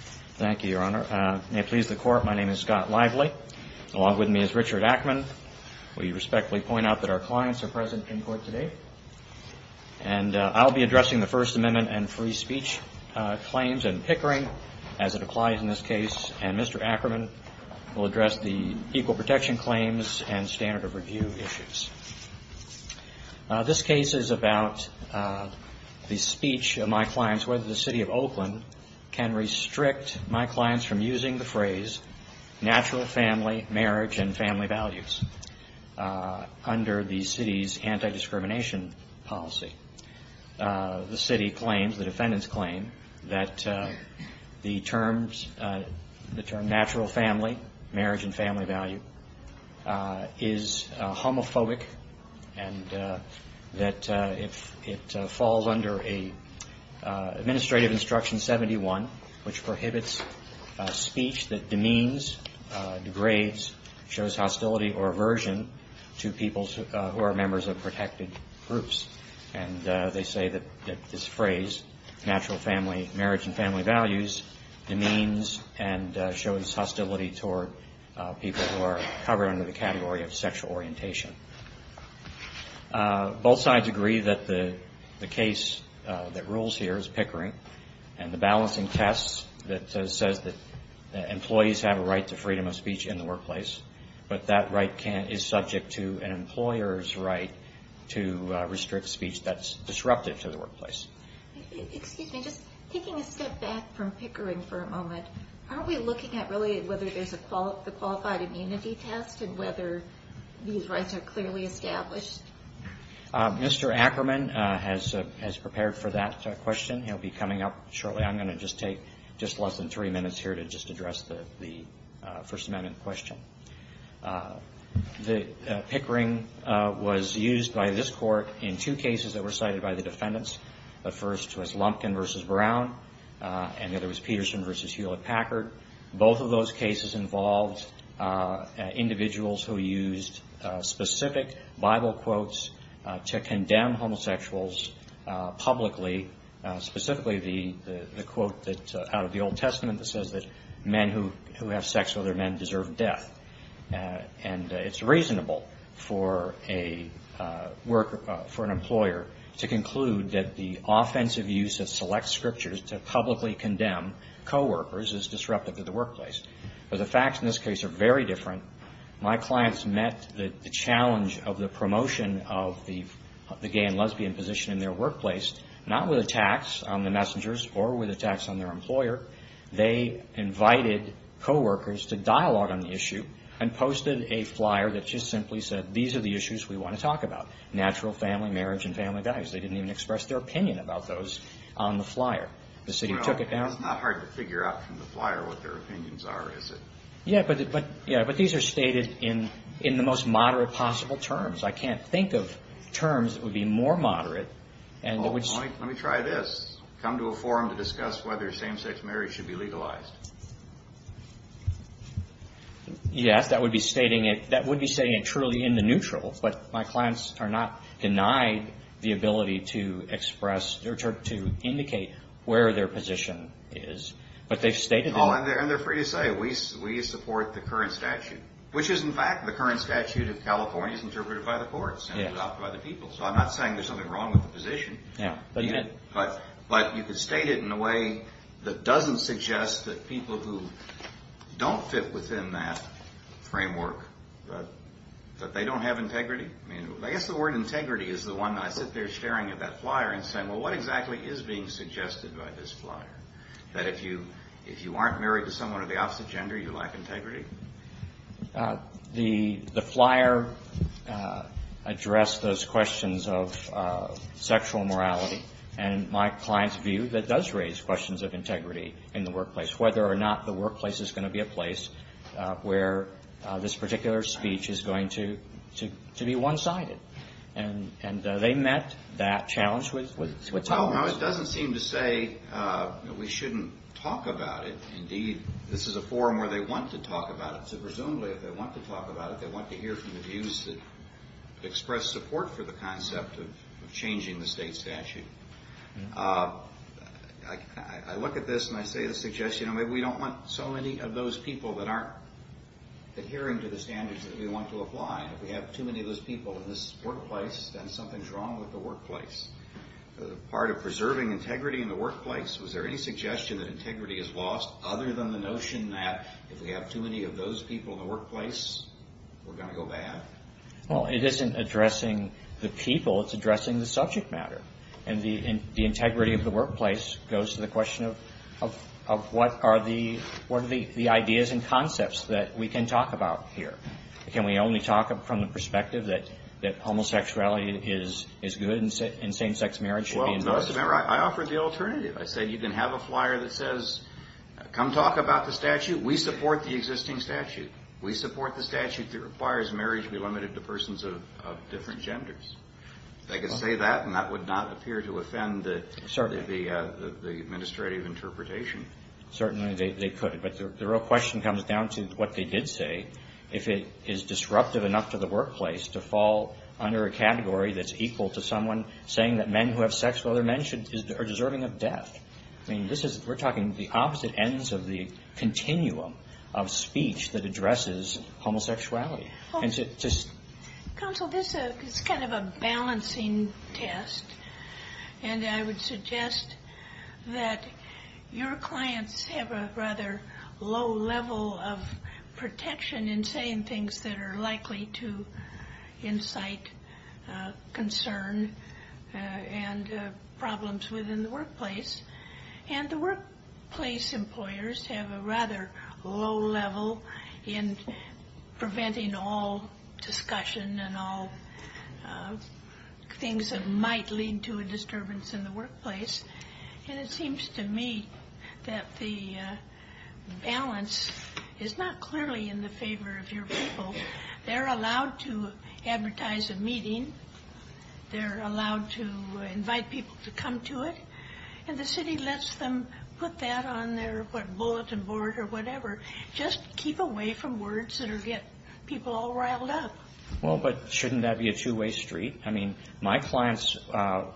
Thank you, Your Honor. May it please the Court, my name is Scott Lively. Along with me is Richard Ackerman. We respectfully point out that our clients are present in court today. And I'll be addressing the First Amendment and free speech claims and pickering as it applies in this case. And Mr. Ackerman will address the equal protection claims and standard of review issues. This case is about the speech of my clients whether the City of Oakland can restrict my clients from using the phrase natural family, marriage and family values under the city's anti-discrimination policy. The city claims, the defendants claim that the terms, the term natural family, marriage and family value is homophobic and that it falls under an administrative instruction 71 which prohibits speech that demeans, degrades, shows hostility or aversion to people who are members of protected groups. And they say that this phrase natural family, marriage and family values demeans and shows hostility toward people who are covered under the category of sexual orientation. Both sides agree that the case that rules here is pickering and the balancing tests that says that employees have a right to freedom of speech in the workplace but that right is subject to an employer's right to restrict speech that's disruptive to the workplace. Excuse me, just taking a step back from pickering for a moment, are we looking at really whether there's a qualified immunity test and whether these rights are clearly established? Mr. Ackerman has prepared for that question. He'll be coming up shortly. I'm going to just take just less than three minutes here to just address the First Amendment question. The pickering was used by this court in two cases that were cited by the defendants. The first was Lumpkin v. Brown and the other was Peterson v. Hewlett-Packard. Both of those cases involved individuals who used specific Bible quotes to condemn homosexuals publicly, specifically the quote out of the Old Testament that says that men who have sex with other men deserve death. And it's reasonable for an employer to conclude that the offensive use of select scriptures to publicly condemn coworkers is disruptive to the workplace. But the facts in this case are very different. My clients met the challenge of the promotion of the gay and lesbian position in their workplace not with attacks on the messengers or with attacks on their employer. They invited coworkers to dialogue on the issue and posted a flyer that just simply said, these are the issues we want to talk about, natural family, marriage and family values. They didn't even express their opinion about those on the flyer. The city took it down. It's not hard to figure out from the flyer what their opinions are, is it? Yeah, but these are stated in the most moderate possible terms. I can't think of terms that would be more moderate. Let me try this. Come to a forum to discuss whether same-sex marriage should be legalized. Yes, that would be stating it truly in the neutral. But my clients are not denied the ability to express or to indicate where their position is. But they've stated it. And they're free to say, we support the current statute, which is in fact, the current statute of California is interpreted by the courts and adopted by the people. So I'm not saying there's something wrong with the position. But you could state it in a way that doesn't suggest that people who don't fit within that framework, that they don't have integrity. I guess the word integrity is the one that I sit there staring at that flyer and saying, well, what exactly is being suggested by this flyer? That if you aren't married to someone of the opposite gender, you lack integrity? The flyer addressed those questions of sexual morality. And my client's view that does raise questions of integrity in the workplace, whether or not the workplace is going to be a place where this particular speech is going to be one-sided. And they met that challenge with Thomas. Well, it doesn't seem to say that we shouldn't talk about it. Indeed, this is a forum where they want to talk about it. So presumably, if they want to talk about it, they want to hear from the views that express support for the concept of changing the state statute. I look at this and I say the suggestion, maybe we don't want so many of those people that aren't adhering to the standards that we want to apply. If we have too many of those people in this workplace, then something's wrong with the workplace. Part of preserving integrity in the workplace, was there any suggestion that integrity is lost, other than the notion that if we have too many of those people in the workplace, we're going to go bad? Well, it isn't addressing the people, it's addressing the subject matter. And the integrity of the workplace goes to the question of what are the ideas and concepts that we can talk about here? Can we only talk from the perspective that homosexuality is good and same-sex marriage should be endorsed? I offered the alternative. I said you can have a flyer that says, come talk about the statute. We support the existing statute. We support the statute that requires marriage be limited to persons of different genders. If I could say that, and that would not appear to offend the administrative interpretation. Certainly, they could. But the real question comes down to what they did say. If it is disruptive enough to the workplace to fall under a category that's equal to someone saying that men who have sex with other men are deserving of death. I mean, this is, we're talking the opposite ends of the continuum of speech that addresses homosexuality. Counsel, this is kind of a balancing test. And I would suggest that your clients have a rather low level of protection in saying things that are likely to incite concern and problems within the workplace. And the workplace employers have a rather low level in preventing all discussion and all things that might lead to a disturbance in the workplace. And it seems to me that the balance is not clearly in the favor of your people. They're allowed to advertise a meeting. They're allowed to invite people to come to it. And the city lets them put that on their bulletin board or whatever. Just keep away from words that will get people all riled up. Well, but shouldn't that be a two-way street? I mean, my clients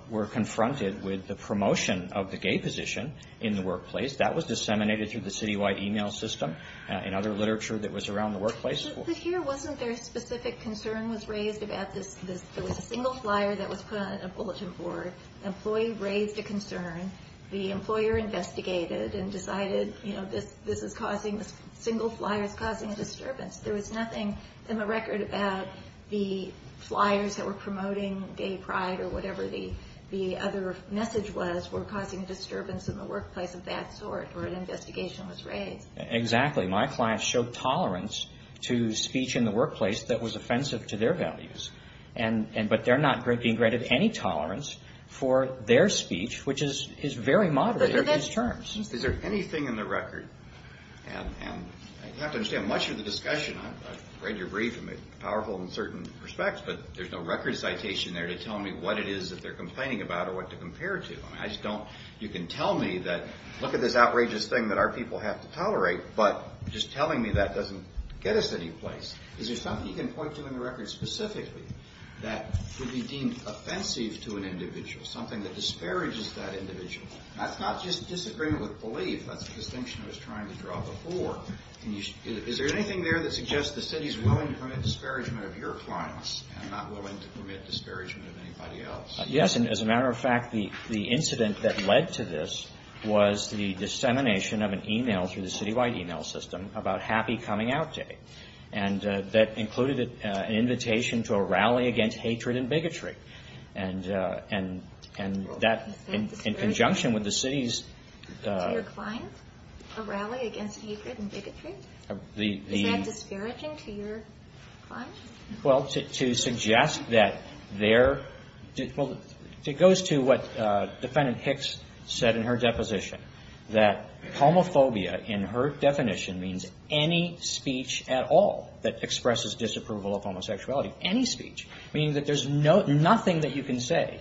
were confronted with the promotion of the gay position in the workplace. That was disseminated through the city-wide email system and other literature that was around the workplace. But here, wasn't there a specific concern was raised about this? There was a single flyer that was put on a bulletin board. The employee raised a concern. The employer investigated and decided, you know, this is causing, this single flyer is causing a disturbance. There was nothing in the record about the flyers that were promoting gay pride or whatever the other message was were causing a disturbance in the workplace of that sort or an investigation was raised. Exactly. My clients showed tolerance to speech in the workplace that was offensive to their values. But they're not being granted any tolerance for their speech, which is very moderate in these terms. Is there anything in the record, and you have to understand, much of the discussion, I've read your brief and it's powerful in certain respects, but there's no record citation there to tell me what it is that they're complaining about or what to compare it to. I just don't, you can tell me that, look at this outrageous thing that our people have to tolerate, but just telling me that doesn't get us any place. Is there something you can point to in the record specifically that would be deemed offensive to an individual, something that disparages that individual? That's not just disagreement with belief. That's the distinction I was trying to draw before. Is there anything there that suggests the city is willing to permit disparagement of your clients and not willing to permit disparagement of anybody else? Yes, and as a matter of fact, the incident that led to this was the dissemination of an email through the city-wide email system about Happy Coming Out Day. And that included an invitation to a rally against hatred and bigotry. And that, in conjunction with the city's- To your clients? A rally against hatred and bigotry? Is that disparaging to your clients? Well, to suggest that there, well, it goes to what Defendant Hicks said in her deposition. That homophobia, in her definition, means any speech at all that expresses disapproval of homosexuality. Any speech. Meaning that there's nothing that you can say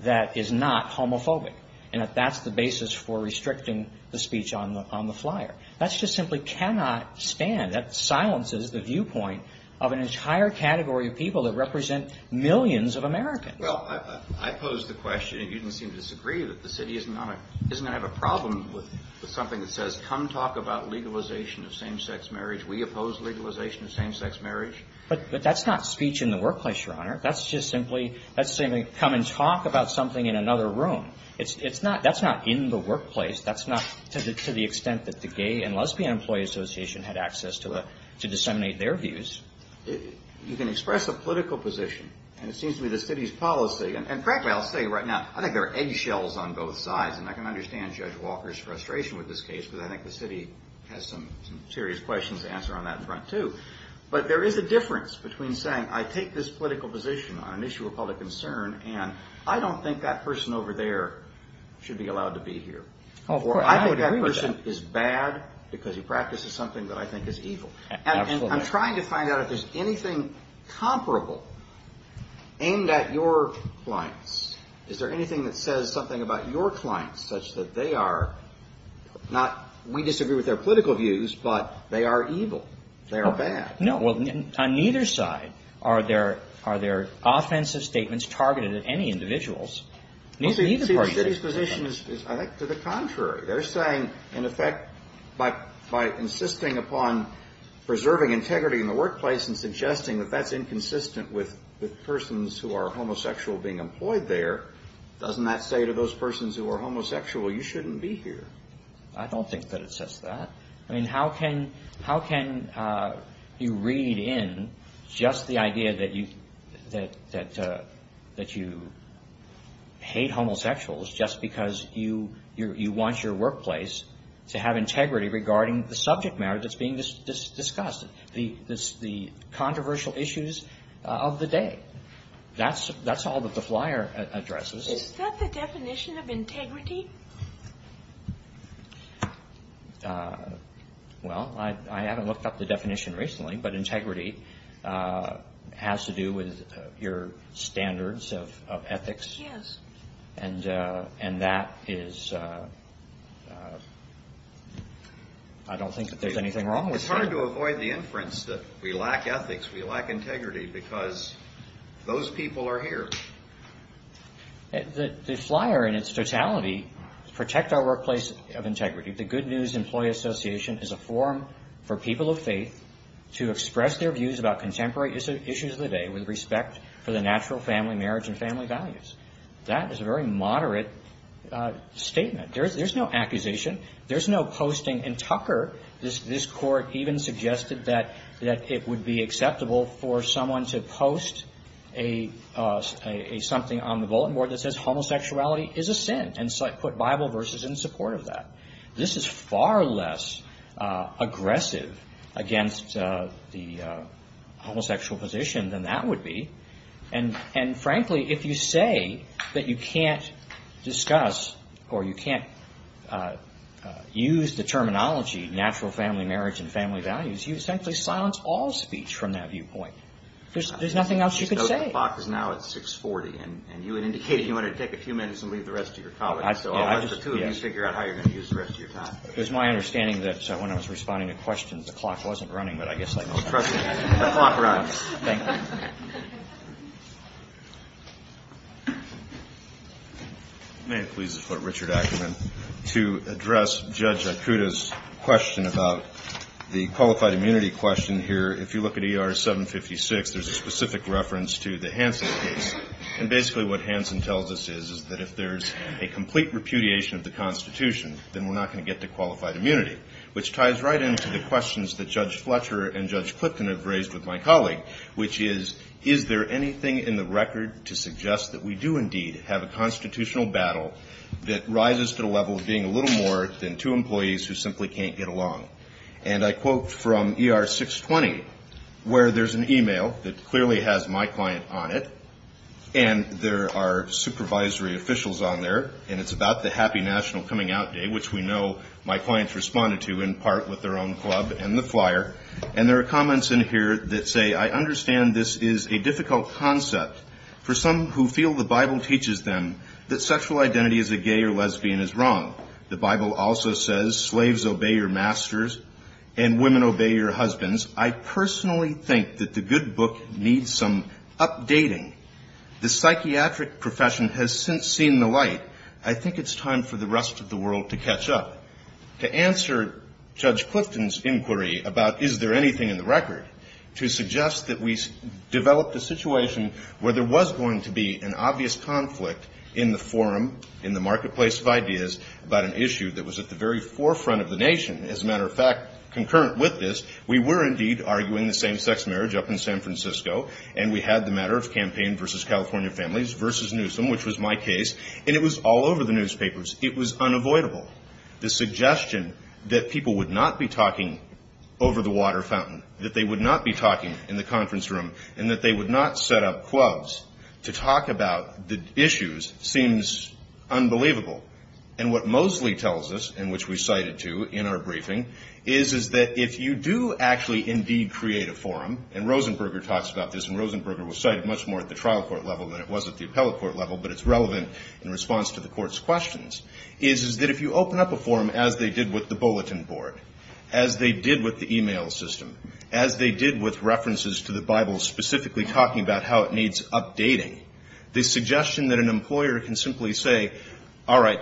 that is not homophobic. And that that's the basis for restricting the speech on the flyer. That's just simply cannot stand. That silences the viewpoint of an entire category of people that represent millions of Americans. Well, I pose the question, and you didn't seem to disagree, that the city isn't going to have a problem with something that says, come talk about legalization of same-sex marriage. We oppose legalization of same-sex marriage. But that's not speech in the workplace, Your Honor. That's just simply come and talk about something in another room. That's not in the workplace. That's not to the extent that the Gay and Lesbian Employee Association had access to disseminate their views. You can express a political position, and it seems to me the city's policy, and frankly, I'll say right now, I think there are eggshells on both sides, and I can understand Judge Walker's frustration with this case, because I think the city has some serious questions to answer on that front, too. But there is a difference between saying, I take this political position on an issue of public concern, and I don't think that person over there should be allowed to be here. Oh, of course. I would agree with that. Or I think that person is bad because he practices something that I think is evil. Absolutely. And I'm trying to find out if there's anything comparable aimed at your clients. Is there anything that says something about your clients such that they are not, we disagree with their political views, but they are evil, they are bad? No. Well, on neither side are there offensive statements targeted at any individuals. Neither party says anything. The city's position is, I think, to the contrary. They're saying, in effect, by insisting upon preserving integrity in the workplace and suggesting that that's inconsistent with persons who are homosexual being employed there, doesn't that say to those persons who are homosexual, you shouldn't be here? I don't think that it says that. I mean, how can you read in just the idea that you hate homosexuals just because you want your workplace to have integrity regarding the subject matter that's being discussed, the controversial issues of the day? That's all that the flyer addresses. Is that the definition of integrity? Well, I haven't looked up the definition recently, but integrity has to do with your standards of ethics. Yes. And that is, I don't think that there's anything wrong with that. It's hard to avoid the inference that we lack ethics, we lack integrity, because those people are here. The flyer, in its totality, protect our workplace of integrity. The Good News Employee Association is a forum for people of faith to express their views about contemporary issues of the day with respect for the natural family marriage and family values. That is a very moderate statement. There's no accusation. There's no posting. And Tucker, this Court even suggested that it would be acceptable for someone to post something on the bulletin board that says homosexuality is a sin and put Bible verses in support of that. This is far less aggressive against the homosexual position than that would be. And frankly, if you say that you can't discuss or you can't use the terminology natural family marriage and family values, you essentially silence all speech from that viewpoint. There's nothing else you can say. The clock is now at 640, and you had indicated you wanted to take a few minutes and leave the rest to your colleagues. So I'll let the two of you figure out how you're going to use the rest of your time. It was my understanding that when I was responding to questions, the clock wasn't running, but I guess I can trust it. The clock runs. Thank you. May it please the Court, Richard Ackerman. To address Judge Akuta's question about the qualified immunity question here, if you look at ER 756, there's a specific reference to the Hansen case. And basically what Hansen tells us is that if there's a complete repudiation of the Constitution, then we're not going to get to qualified immunity, which ties right into the questions that Judge Fletcher and Judge Clifton have raised with my colleague, which is, is there anything in the record to suggest that we do indeed have a constitutional battle that rises to the level of being a little more than two employees who simply can't get along? And I quote from ER 620, where there's an e-mail that clearly has my client on it, and there are supervisory officials on there, and it's about the Happy National Coming Out Day, which we know my clients responded to in part with their own club and the flyer. And there are comments in here that say, I understand this is a difficult concept for some who feel the Bible teaches them that sexual identity as a gay or lesbian is wrong. The Bible also says slaves obey your masters and women obey your husbands. I personally think that the good book needs some updating. The psychiatric profession has since seen the light. I think it's time for the rest of the world to catch up. To answer Judge Clifton's inquiry about is there anything in the record, to suggest that we developed a situation where there was going to be an obvious conflict in the forum, in the marketplace of ideas about an issue that was at the very forefront of the nation. As a matter of fact, concurrent with this, we were indeed arguing the same-sex marriage up in San Francisco, and we had the matter of campaign versus California families versus Newsom, which was my case. And it was all over the newspapers. It was unavoidable. The suggestion that people would not be talking over the water fountain, that they would not be talking in the conference room, and that they would not set up clubs to talk about the issues seems unbelievable. And what Mosley tells us, and which we cited to in our briefing, is that if you do actually indeed create a forum, and Rosenberger talks about this, and Rosenberger was cited much more at the trial court level than it was at the appellate court level, but it's relevant in response to the court's questions, is that if you open up a forum as they did with the bulletin board, as they did with the e-mail system, as they did with references to the Bible specifically talking about how it needs updating, the suggestion that an employer can simply say, all right,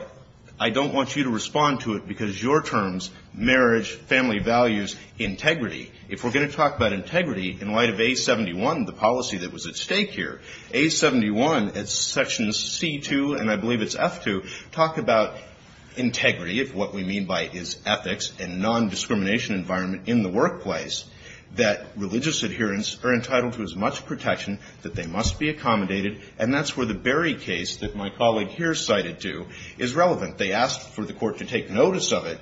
I don't want you to respond to it because your terms, marriage, family values, integrity, if we're going to talk about integrity in light of A71, the policy that was at stake here, A71, it's section C2, and I believe it's F2, talk about integrity, if what we mean by it is ethics and non-discrimination environment in the workplace, that religious adherents are entitled to as much protection that they must be accommodated, and that's where the Berry case that my colleague here cited to is relevant. They asked for the court to take notice of it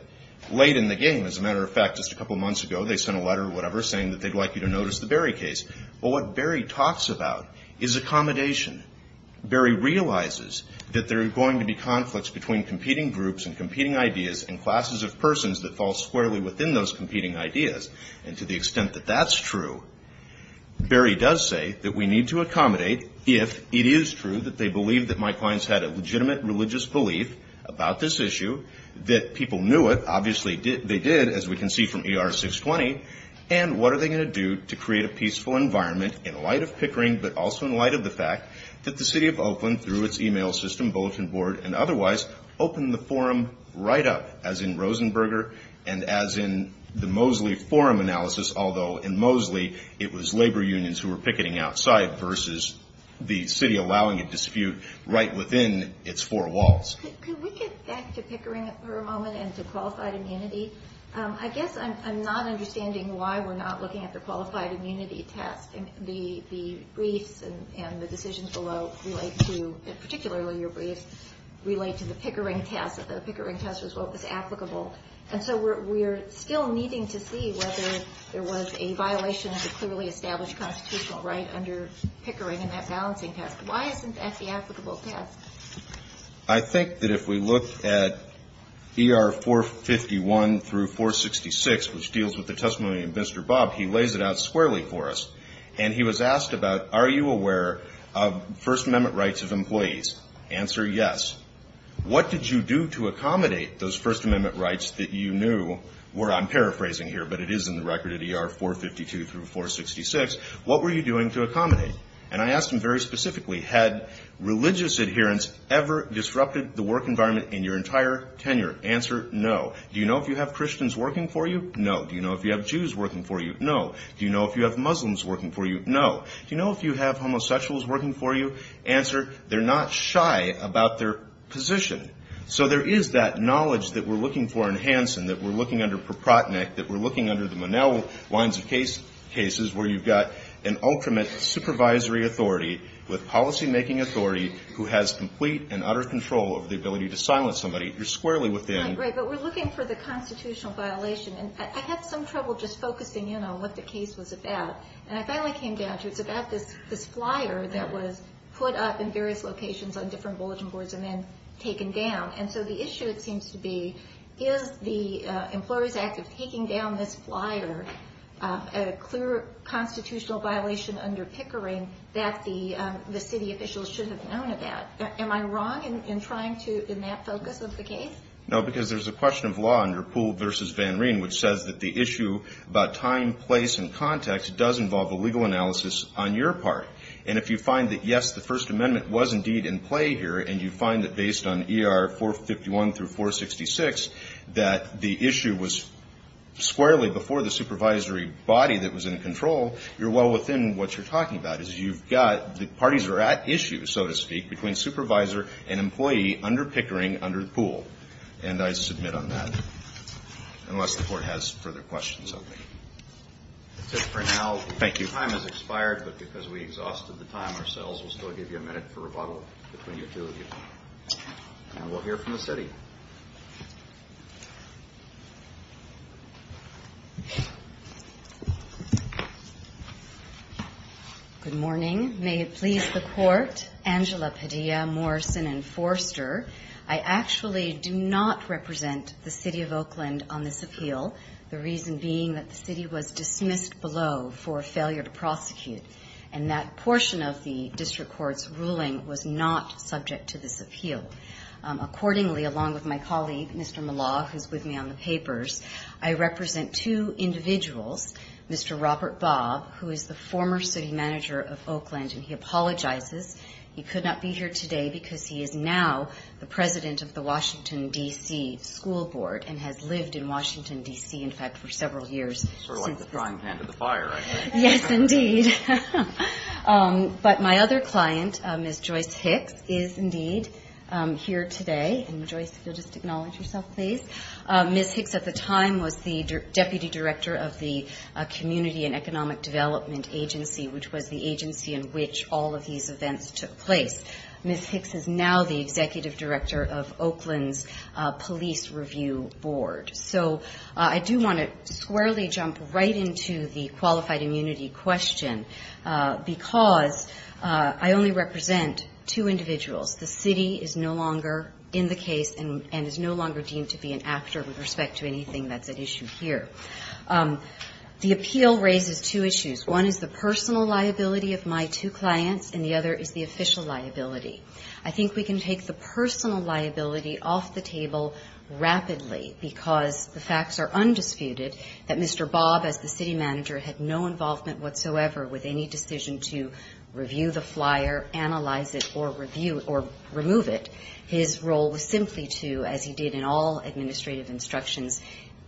late in the game. As a matter of fact, just a couple months ago, they sent a letter or whatever, saying that they'd like you to notice the Berry case, but what Berry talks about is accommodation. Berry realizes that there are going to be conflicts between competing groups and competing ideas and classes of persons that fall squarely within those competing ideas, and to the extent that that's true, Berry does say that we need to accommodate if it is true that they believe that my clients had a legitimate religious belief about this issue, that people knew it, obviously they did, as we can see from ER 620, and what are they going to do to create a peaceful environment in light of Pickering, but also in light of the fact that the city of Oakland, through its e-mail system, bulletin board, and otherwise, opened the forum right up, as in Rosenberger, and as in the Mosley forum analysis, although in Mosley, it was labor unions who were picketing outside versus the city allowing a dispute right within its four walls. Can we get back to Pickering for a moment and to qualified immunity? I guess I'm not understanding why we're not looking at the qualified immunity test. The briefs and the decisions below relate to, particularly your briefs, relate to the Pickering test. The Pickering test was what was applicable, and so we're still needing to see whether there was a violation of the clearly established constitutional right under Pickering in that balancing test. Why isn't that the applicable test? I think that if we look at ER 451 through 466, which deals with the testimony of Mr. Bob, he lays it out squarely for us, and he was asked about, are you aware of First Amendment rights of employees? Answer, yes. What did you do to accommodate those First Amendment rights that you knew were, I'm paraphrasing here, but it is in the record at ER 452 through 466, what were you doing to accommodate? And I asked him very specifically, had religious adherence ever disrupted the work environment in your entire tenure? Answer, no. Do you know if you have Christians working for you? No. Do you know if you have Jews working for you? No. Do you know if you have Muslims working for you? No. Do you know if you have homosexuals working for you? Answer, they're not shy about their position. So there is that knowledge that we're looking for in Hansen, that we're looking under Proprotnick, that we're looking under the Monell lines of cases where you've got an ultimate supervisory authority with policymaking authority who has complete and utter control over the ability to silence somebody. You're squarely within. Right, right. But we're looking for the constitutional violation. And I had some trouble just focusing, you know, what the case was about. And I finally came down to it's about this flyer that was put up in various locations on different bulletin boards and then taken down. And so the issue, it seems to be, is the Employers Act of taking down this flyer a clear constitutional violation under Pickering that the city officials should have known about? Am I wrong in trying to, in that focus of the case? No, because there's a question of law under Poole v. Van Rien, which says that the issue about time, place, and context does involve a legal analysis on your part. And if you find that, yes, the First Amendment was indeed in play here, and you find that based on ER 451 through 466 that the issue was squarely before the supervisory body that was in control, you're well within what you're talking about. You've got the parties are at issue, so to speak, between supervisor and employee under Pickering under Poole. And I submit on that, unless the Court has further questions of me. That's it for now. Thank you. Time has expired, but because we exhausted the time ourselves, we'll still give you a minute for rebuttal between the two of you. And we'll hear from the city. Good morning. May it please the Court, Angela Padilla, Morrison, and Forster. I actually do not represent the city of Oakland on this appeal, the reason being that the city was dismissed below for failure to prosecute, and that portion of the district court's ruling was not subject to this appeal. Accordingly, along with my colleague, Mr. Malau, who's with me on the papers, I represent two individuals, Mr. Robert Bob, who is the former city manager of Oakland, and he apologizes. He could not be here today because he is now the president of the Washington, D.C., school board and has lived in Washington, D.C., in fact, for several years. Sort of like the drying pan to the fire, I guess. Yes, indeed. But my other client, Ms. Joyce Hicks, is indeed here today. And, Joyce, if you'll just acknowledge yourself, please. Ms. Hicks at the time was the deputy director of the Community and Economic Development Agency, which was the agency in which all of these events took place. Ms. Hicks is now the executive director of Oakland's police review board. So I do want to squarely jump right into the qualified immunity question, because I only represent two individuals. The city is no longer in the case and is no longer deemed to be an actor with respect to anything that's at issue here. The appeal raises two issues. One is the personal liability of my two clients, and the other is the official liability. I think we can take the personal liability off the table rapidly, because the facts are undisputed that Mr. Bob, as the city manager, had no involvement whatsoever with any decision to review the flyer, analyze it, or remove it. His role was simply to, as he did in all administrative instructions,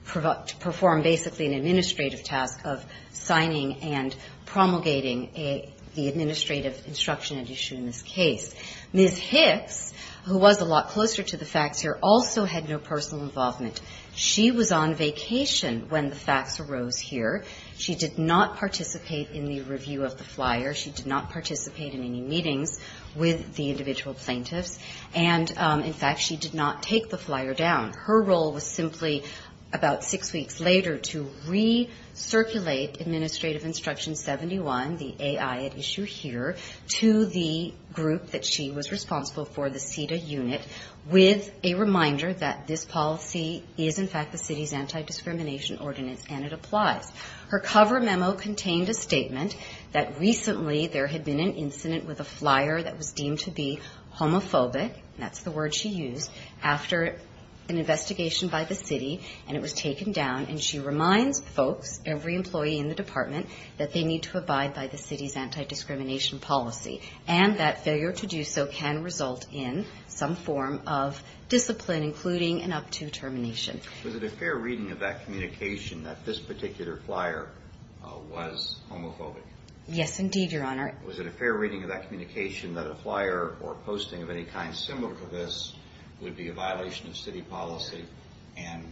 perform basically an administrative task of signing and promulgating the administrative instruction at issue in this case. Ms. Hicks, who was a lot closer to the facts here, also had no personal involvement. She was on vacation when the facts arose here. She did not participate in the review of the flyer. She did not participate in any meetings with the individual plaintiffs. And, in fact, she did not take the flyer down. Her role was simply, about six weeks later, to recirculate administrative instruction 71, the AI at issue here, to the group that she was responsible for, the CIDA unit, with a reminder that this policy is, in fact, the city's anti-discrimination ordinance, and it applies. Her cover memo contained a statement that recently there had been an incident with a flyer that was deemed to be homophobic, and that's the word she used, after an investigation by the city, and it was taken down. And she reminds folks, every employee in the department, that they need to abide by the city's anti-discrimination policy, and that failure to do so can result in some form of discipline, including and up to termination. Was it a fair reading of that communication that this particular flyer was homophobic? Yes, indeed, Your Honor. Was it a fair reading of that communication that a flyer or posting of any kind similar to this would be a violation of city policy and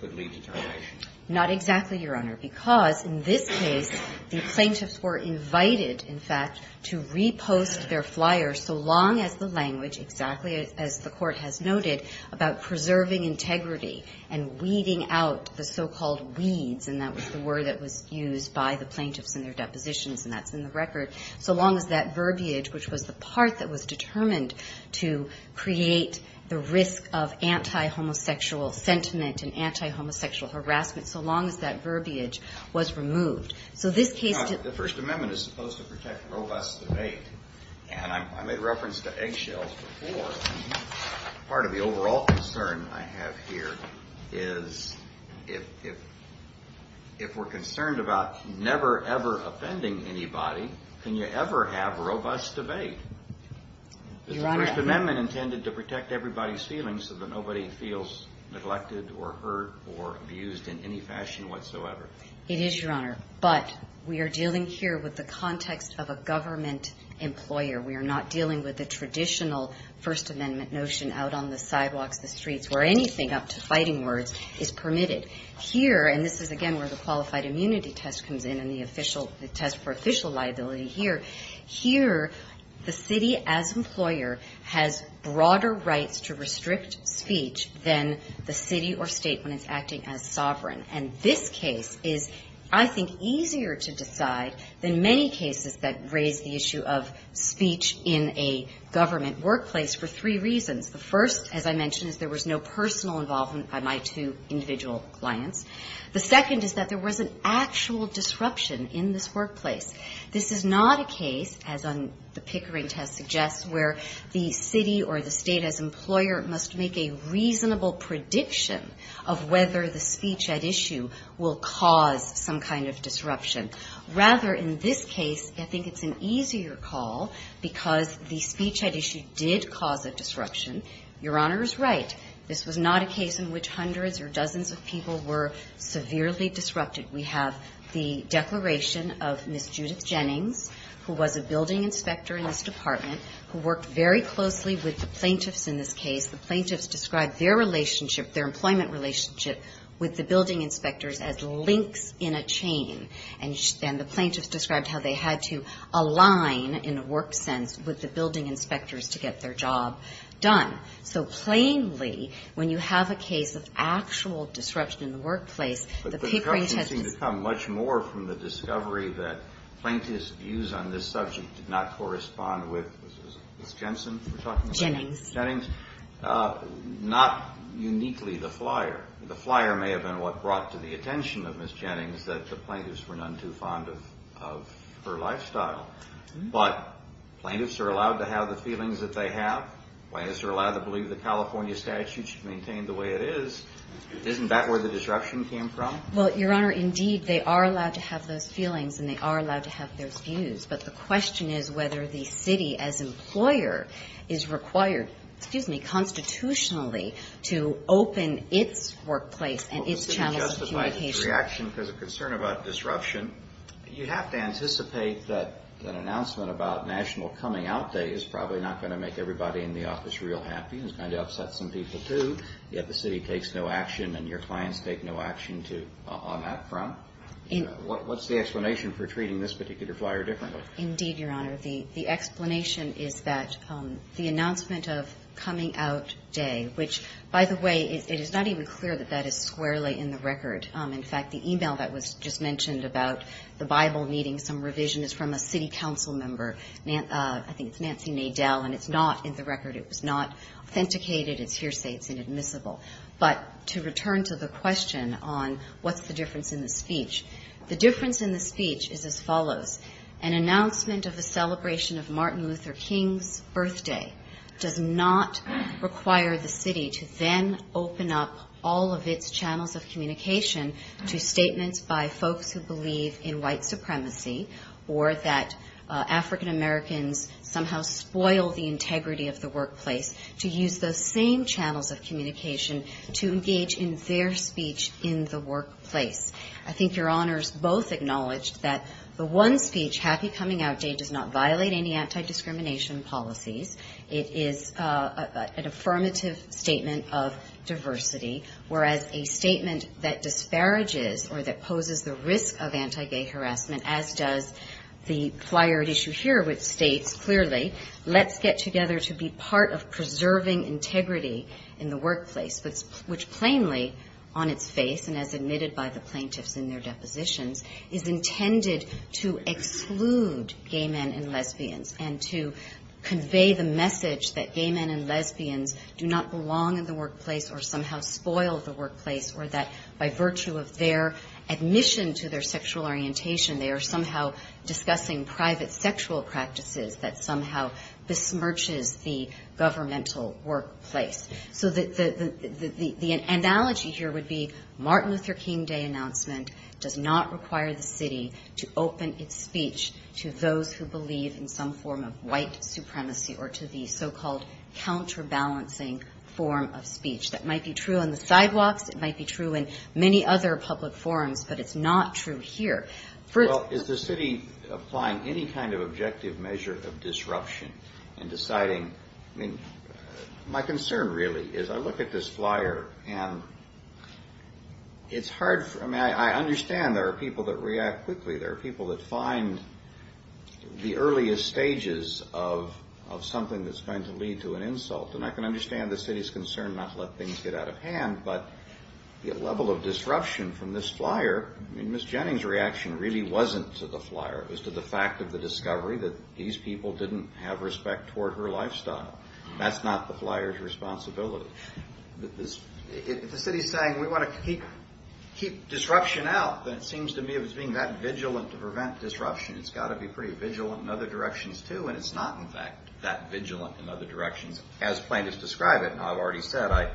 could lead to termination? Not exactly, Your Honor, because in this case, the plaintiffs were invited, in fact, to repost their flyer so long as the language, exactly as the Court has noted, about preserving integrity and weeding out the so-called weeds, and that was the word that was used by the plaintiffs in their depositions, and that's in the record, so long as that verbiage, which was the part that was determined to create the risk of anti-homosexual sentiment and anti-homosexual harassment, so long as that verbiage was removed. The First Amendment is supposed to protect robust debate, and I made reference to eggshells before. Part of the overall concern I have here is, if we're concerned about never, ever offending anybody, can you ever have robust debate? Is the First Amendment intended to protect everybody's feelings so that nobody feels neglected or hurt or abused in any fashion whatsoever? It is, Your Honor, but we are dealing here with the context of a government employer. We are not dealing with the traditional First Amendment notion out on the sidewalks, on the streets, where anything up to fighting words is permitted. Here, and this is again where the qualified immunity test comes in and the test for official liability here, here the city as employer has broader rights to restrict speech than the city or state when it's acting as sovereign, and this case is, I think, easier to decide than many cases that raise the issue of speech in a government workplace for three reasons. The first, as I mentioned, is there was no personal involvement by my two individual clients. The second is that there was an actual disruption in this workplace. This is not a case, as on the Pickering test suggests, where the city or the state as employer must make a reasonable prediction of whether the speech at issue will cause some kind of disruption. Rather, in this case, I think it's an easier call because the speech at issue did cause a disruption. Your Honor is right. This was not a case in which hundreds or dozens of people were severely disrupted. We have the declaration of Ms. Judith Jennings, who was a building inspector in this department, who worked very closely with the plaintiffs in this case. The plaintiffs described their relationship, their employment relationship, with the building inspectors as links in a chain, and the plaintiffs described how they had to align, in a work sense, with the building inspectors to get their job done. So, plainly, when you have a case of actual disruption in the workplace, the Pickering test is... But the disruptions seem to come much more from the discovery that plaintiffs' views on this subject did not correspond with Ms. Jensen, we're talking about? Jennings. Jennings. Not uniquely the flyer. The flyer may have been what brought to the attention of Ms. Jennings that the plaintiffs were none too fond of her lifestyle, but plaintiffs are allowed to have the feelings that they have. Plaintiffs are allowed to believe the California statute should maintain the way it is. Isn't that where the disruption came from? Well, Your Honor, indeed, they are allowed to have those feelings, and they are allowed to have those views, but the question is whether the city, as employer, is required, excuse me, constitutionally, to open its workplace and its channels of communication. Your reaction, because of concern about disruption, you have to anticipate that an announcement about national coming out day is probably not going to make everybody in the office real happy. It's going to upset some people, too, yet the city takes no action and your clients take no action on that front. What's the explanation for treating this particular flyer differently? Indeed, Your Honor. The explanation is that the announcement of coming out day, which, by the way, it is not even clear that that is squarely in the record. In fact, the e-mail that was just mentioned about the Bible needing some revision is from a city council member. I think it's Nancy Nadel, and it's not in the record. It was not authenticated. It's hearsay. It's inadmissible. But to return to the question on what's the difference in the speech, the difference in the speech is as follows. An announcement of the celebration of Martin Luther King's birthday does not require the city to then open up all of its channels of communication to statements by folks who believe in white supremacy or that African-Americans somehow spoil the integrity of the workplace to use those same channels of communication to engage in their speech in the workplace. I think Your Honors both acknowledged that the one speech, happy coming out day, does not violate any anti-discrimination policies. It is an affirmative statement of diversity, whereas a statement that disparages or that poses the risk of anti-gay harassment, as does the flyer at issue here, which states clearly, let's get together to be part of preserving integrity in the workplace, which plainly on its face and as admitted by the plaintiffs in their depositions, is intended to exclude gay men and lesbians and to convey the message that gay men and lesbians do not belong in the workplace or somehow spoil the workplace, or that by virtue of their admission to their sexual orientation, they are somehow discussing private sexual practices that somehow besmirches the governmental workplace. So the analogy here would be Martin Luther King Day announcement does not require the city to open its speech to those who believe in some form of white supremacy or to the so-called counterbalancing form of speech. That might be true on the sidewalks. It might be true in many other public forums, but it's not true here. Well, is the city applying any kind of objective measure of disruption in deciding, I mean, my concern really is I look at this flyer and it's hard, I mean, I understand there are people that react quickly. There are people that find the earliest stages of something that's going to lead to an insult and I can understand the city's concern not to let things get out of hand, but the level of disruption from this flyer, I mean, Ms. Jennings' reaction really wasn't to the flyer. It was to the fact of the discovery that these people didn't have respect toward her lifestyle. That's not the flyer's responsibility. If the city's saying we want to keep disruption out, then it seems to me it was being that vigilant to prevent disruption. It's got to be pretty vigilant in other directions too, and it's not, in fact, that vigilant in other directions as plaintiffs describe it. Now, I've already said I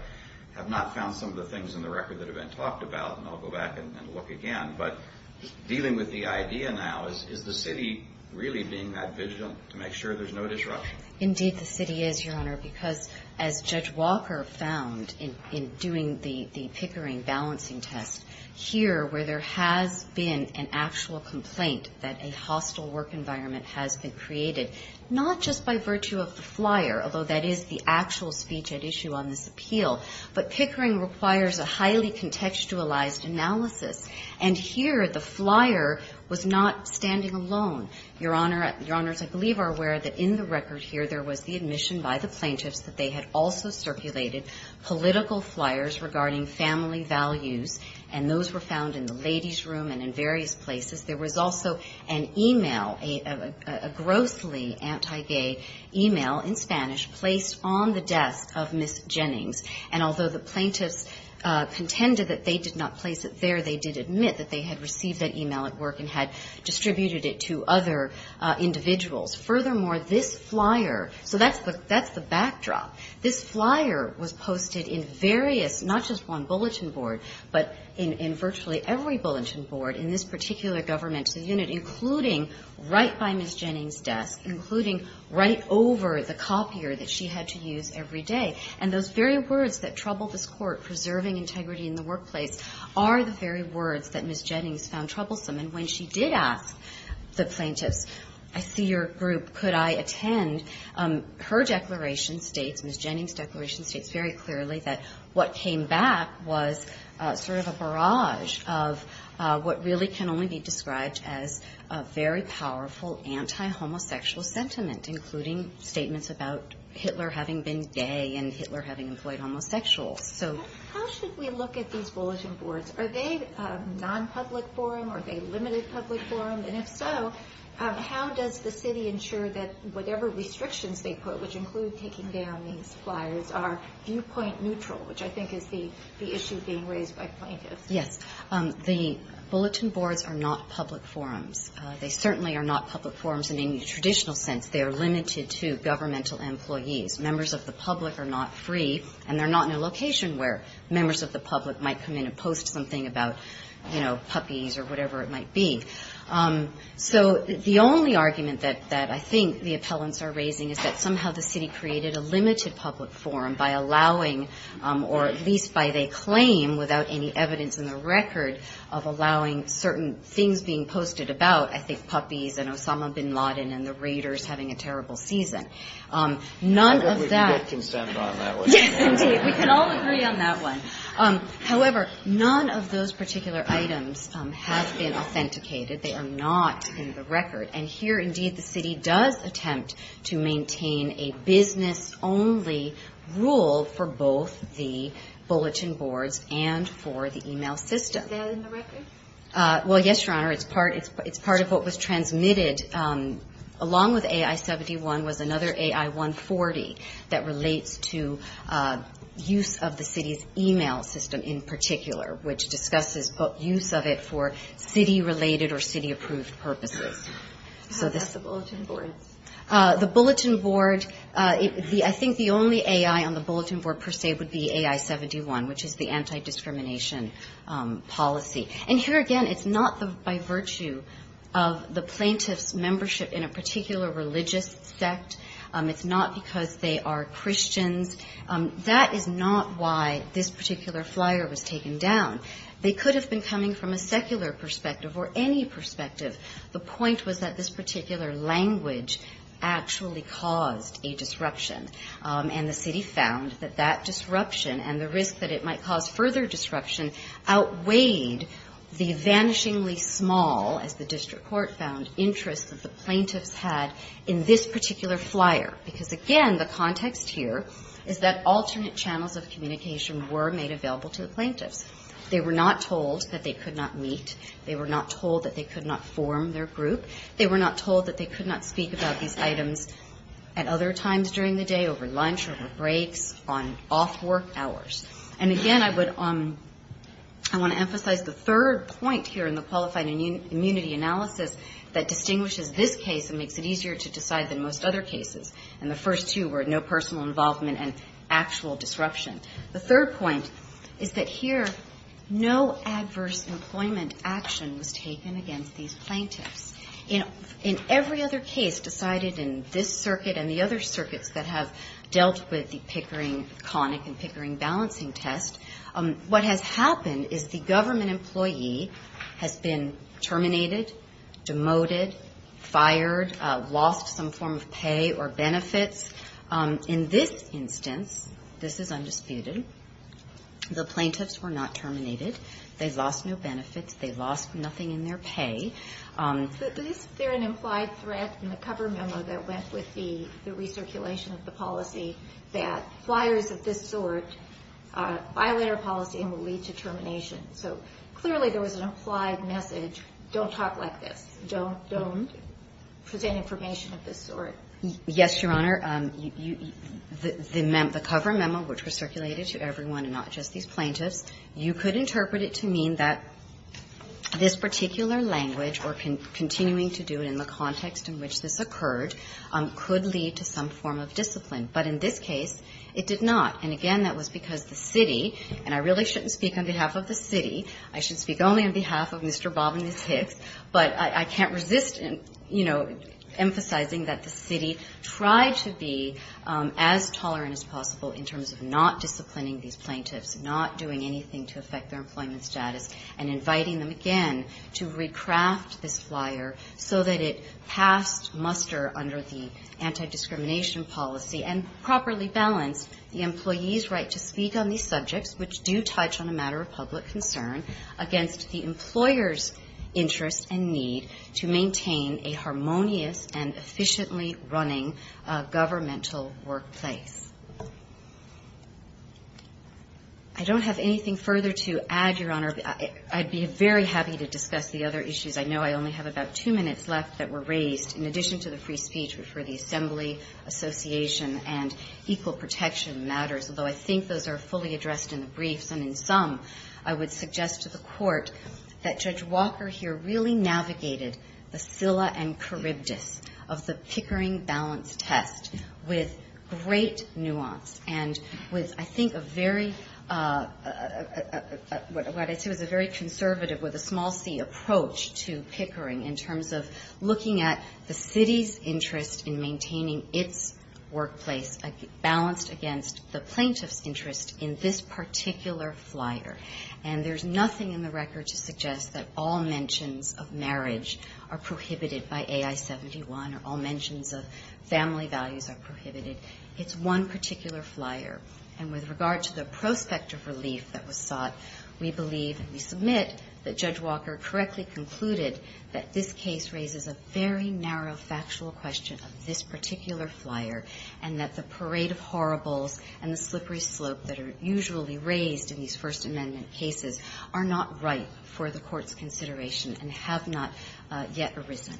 have not found some of the things in the record that have been talked about, and I'll go back and look again, but dealing with the idea now, is the city really being that vigilant to make sure there's no disruption? Indeed, the city is, Your Honor, because as Judge Walker found in doing the Pickering balancing test, here where there has been an actual complaint that a hostile work environment has been created, not just by virtue of the flyer, although that is the actual speech at issue on this appeal, but Pickering requires a highly contextualized analysis, and here the flyer was not standing alone. Your Honor, Your Honors, I believe are aware that in the record here, there was the admission by the plaintiffs that they had also circulated political flyers regarding family values, and those were found in the ladies' room and in various places. There was also an e-mail, a grossly anti-gay e-mail in Spanish placed on the desk of Ms. Jennings, and although the plaintiffs contended that they did not place it there, they did admit that they had received that e-mail at work and had distributed it to other individuals. Furthermore, this flyer, so that's the backdrop. This flyer was posted in various, not just one bulletin board, but in virtually every bulletin board in this particular governmental unit, including right by Ms. Jennings' desk, including right over the copier that she had to use every day, and those very words that trouble this Court, preserving integrity in the workplace, are the very words that Ms. Jennings found troublesome. And when she did ask the plaintiffs, I see your group, could I attend, her declaration states, Ms. Jennings' declaration states very clearly that what came back was sort of a barrage of what really can only be described as a very powerful anti-homosexual sentiment, including statements about Hitler having been gay and Hitler having employed homosexuals. So how should we look at these bulletin boards? Are they non-public forum? Are they limited public forum? And if so, how does the city ensure that whatever restrictions they put, which include taking down these flyers, are viewpoint neutral, which I think is the issue being raised by plaintiffs? Yes. The bulletin boards are not public forums. They certainly are not public forums in any traditional sense. They are limited to governmental employees. Members of the public are not free, and they're not in a location where members of the public might come in and post something about, you know, puppies or whatever it might be. So the only argument that I think the appellants are raising is that somehow the city created a limited public forum by allowing, or at least by they claim, without any evidence in the record, of allowing certain things being posted about, I think, puppies and Osama bin Laden and the Raiders having a terrible season. None of that. I think we can get consent on that one. Yes, indeed. We can all agree on that one. However, none of those particular items have been authenticated. They are not in the record. And here, indeed, the city does attempt to maintain a business-only rule for both the bulletin boards and for the e-mail system. Is that in the record? Well, yes, Your Honor. It's part of what was transmitted along with AI-71 was another AI-140 that relates to use of the city's e-mail system in particular, which discusses use of it for city-related or city-approved purposes. So that's the bulletin board. The bulletin board, I think the only AI on the bulletin board, per se, would be AI-71, which is the anti-discrimination policy. And here, again, it's not by virtue of the plaintiff's membership in a particular religious sect. It's not because they are Christians. That is not why this particular flyer was taken down. They could have been coming from a secular perspective or any perspective. The point was that this particular language actually caused a disruption. And the city found that that disruption and the risk that it might cause further disruption outweighed the vanishingly small, as the district court found, interest that the plaintiffs had in this particular flyer. Because, again, the context here is that alternate channels of communication were made available to the plaintiffs. They were not told that they could not meet. They were not told that they could not form their group. They were not told that they could not speak about these items at other times during the day, over lunch, over breaks, on off-work hours. And, again, I would emphasize the third point here in the Qualified Immunity Analysis that distinguishes this case and makes it easier to decide than most other cases. And the first two were no personal involvement and actual disruption. The third point is that here no adverse employment action was taken against these plaintiffs. In every other case decided in this circuit and the other circuits that have dealt with the Pickering-Connick and Pickering balancing test, what has happened is the government employee has been terminated, demoted, fired, lost some form of pay or benefits. In this instance, this is undisputed, the plaintiffs were not terminated. They lost no benefits. They lost nothing in their pay. But is there an implied threat in the cover memo that went with the recirculation of the policy that flyers of this sort violate our policy and will lead to termination? So clearly there was an implied message, don't talk like this. Don't present information of this sort. Yes, Your Honor. The cover memo which was circulated to everyone and not just these plaintiffs, you could interpret it to mean that this particular language or continuing to do it in the context in which this occurred could lead to some form of discipline. But in this case, it did not. And again, that was because the city, and I really shouldn't speak on behalf of the city, I should speak only on behalf of Mr. Bob and Ms. Hicks, but I can't resist, you know, emphasizing that the city tried to be as tolerant as possible in terms of not disciplining these plaintiffs, not doing anything to affect their employment status, and inviting them again to recraft this flyer so that it passed muster under the anti-discrimination policy and properly balanced the employee's right to speak on these subjects which do touch on a matter of public concern against the employer's interest and need to maintain a harmonious and efficiently running governmental workplace. I don't have anything further to add, Your Honor. I'd be very happy to discuss the other issues. I know I only have about two minutes left that were raised in addition to the free speech for the assembly, association, and equal protection matters, although I think those are fully addressed in the briefs and in sum, I would suggest to the Court that Judge Walker here really navigated the scylla and charybdis of the Pickering balance test with great nuance and with, I think, a very, what I'd say was a very conservative, with a small c, approach to Pickering in terms of looking at the city's interest in maintaining its workplace balanced against the plaintiff's interest in this particular flyer. And there's nothing in the record to suggest that all mentions of marriage are prohibited by AI-71 or all mentions of family values are prohibited. It's one particular flyer. And with regard to the prospect of relief that was sought, we believe and we submit that Judge Walker correctly concluded that this case raises a very narrow factual question of this particular flyer and that the parade of horribles and the slippery slope that are usually raised in these First Amendment cases are not right for the Court's consideration and have not yet arisen.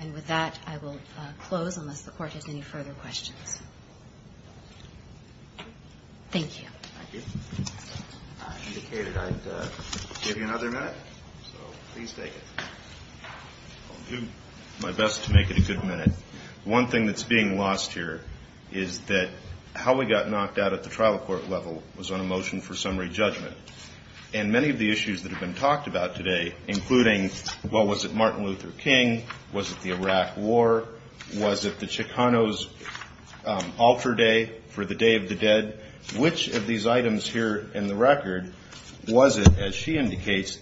And with that, I will close unless the Court has any further questions. Thank you. Thank you. Indicated I'd give you another minute, so please take it. I'll do my best to make it a good minute. One thing that's being lost here is that how we got knocked out at the trial court level was on a motion for summary judgment. And many of the issues that have been talked about today, including, well, was it Martin Luther King? Was it the Iraq War? Was it the Chicanos' altar day for the Day of the Dead? Which of these items here in the record was it, as she indicates,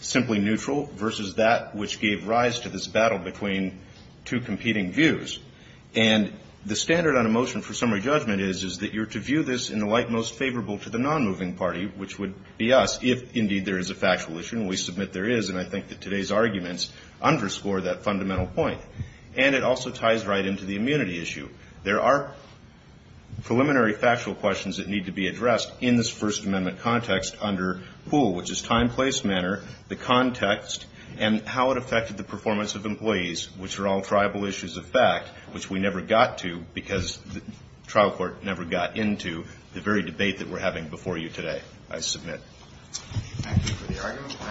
simply neutral versus that which gave rise to this battle between two competing views? And the standard on a motion for summary judgment is, is that you're to view this in the light most favorable to the nonmoving party, which would be us, if indeed there is a factual issue. And we submit there is, and I think that today's arguments underscore that fundamental point. And it also ties right into the immunity issue. There are preliminary factual questions that need to be addressed in this First Amendment context under POOL, which is time, place, manner, the context, and how it affected the performance of employees, which are all tribal issues of fact, which we never got to because the trial court never got into the very debate that we're having before you today. I submit. Thank you for the argument. We'll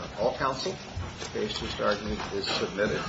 ask all counsel. The basis of the argument is submitted.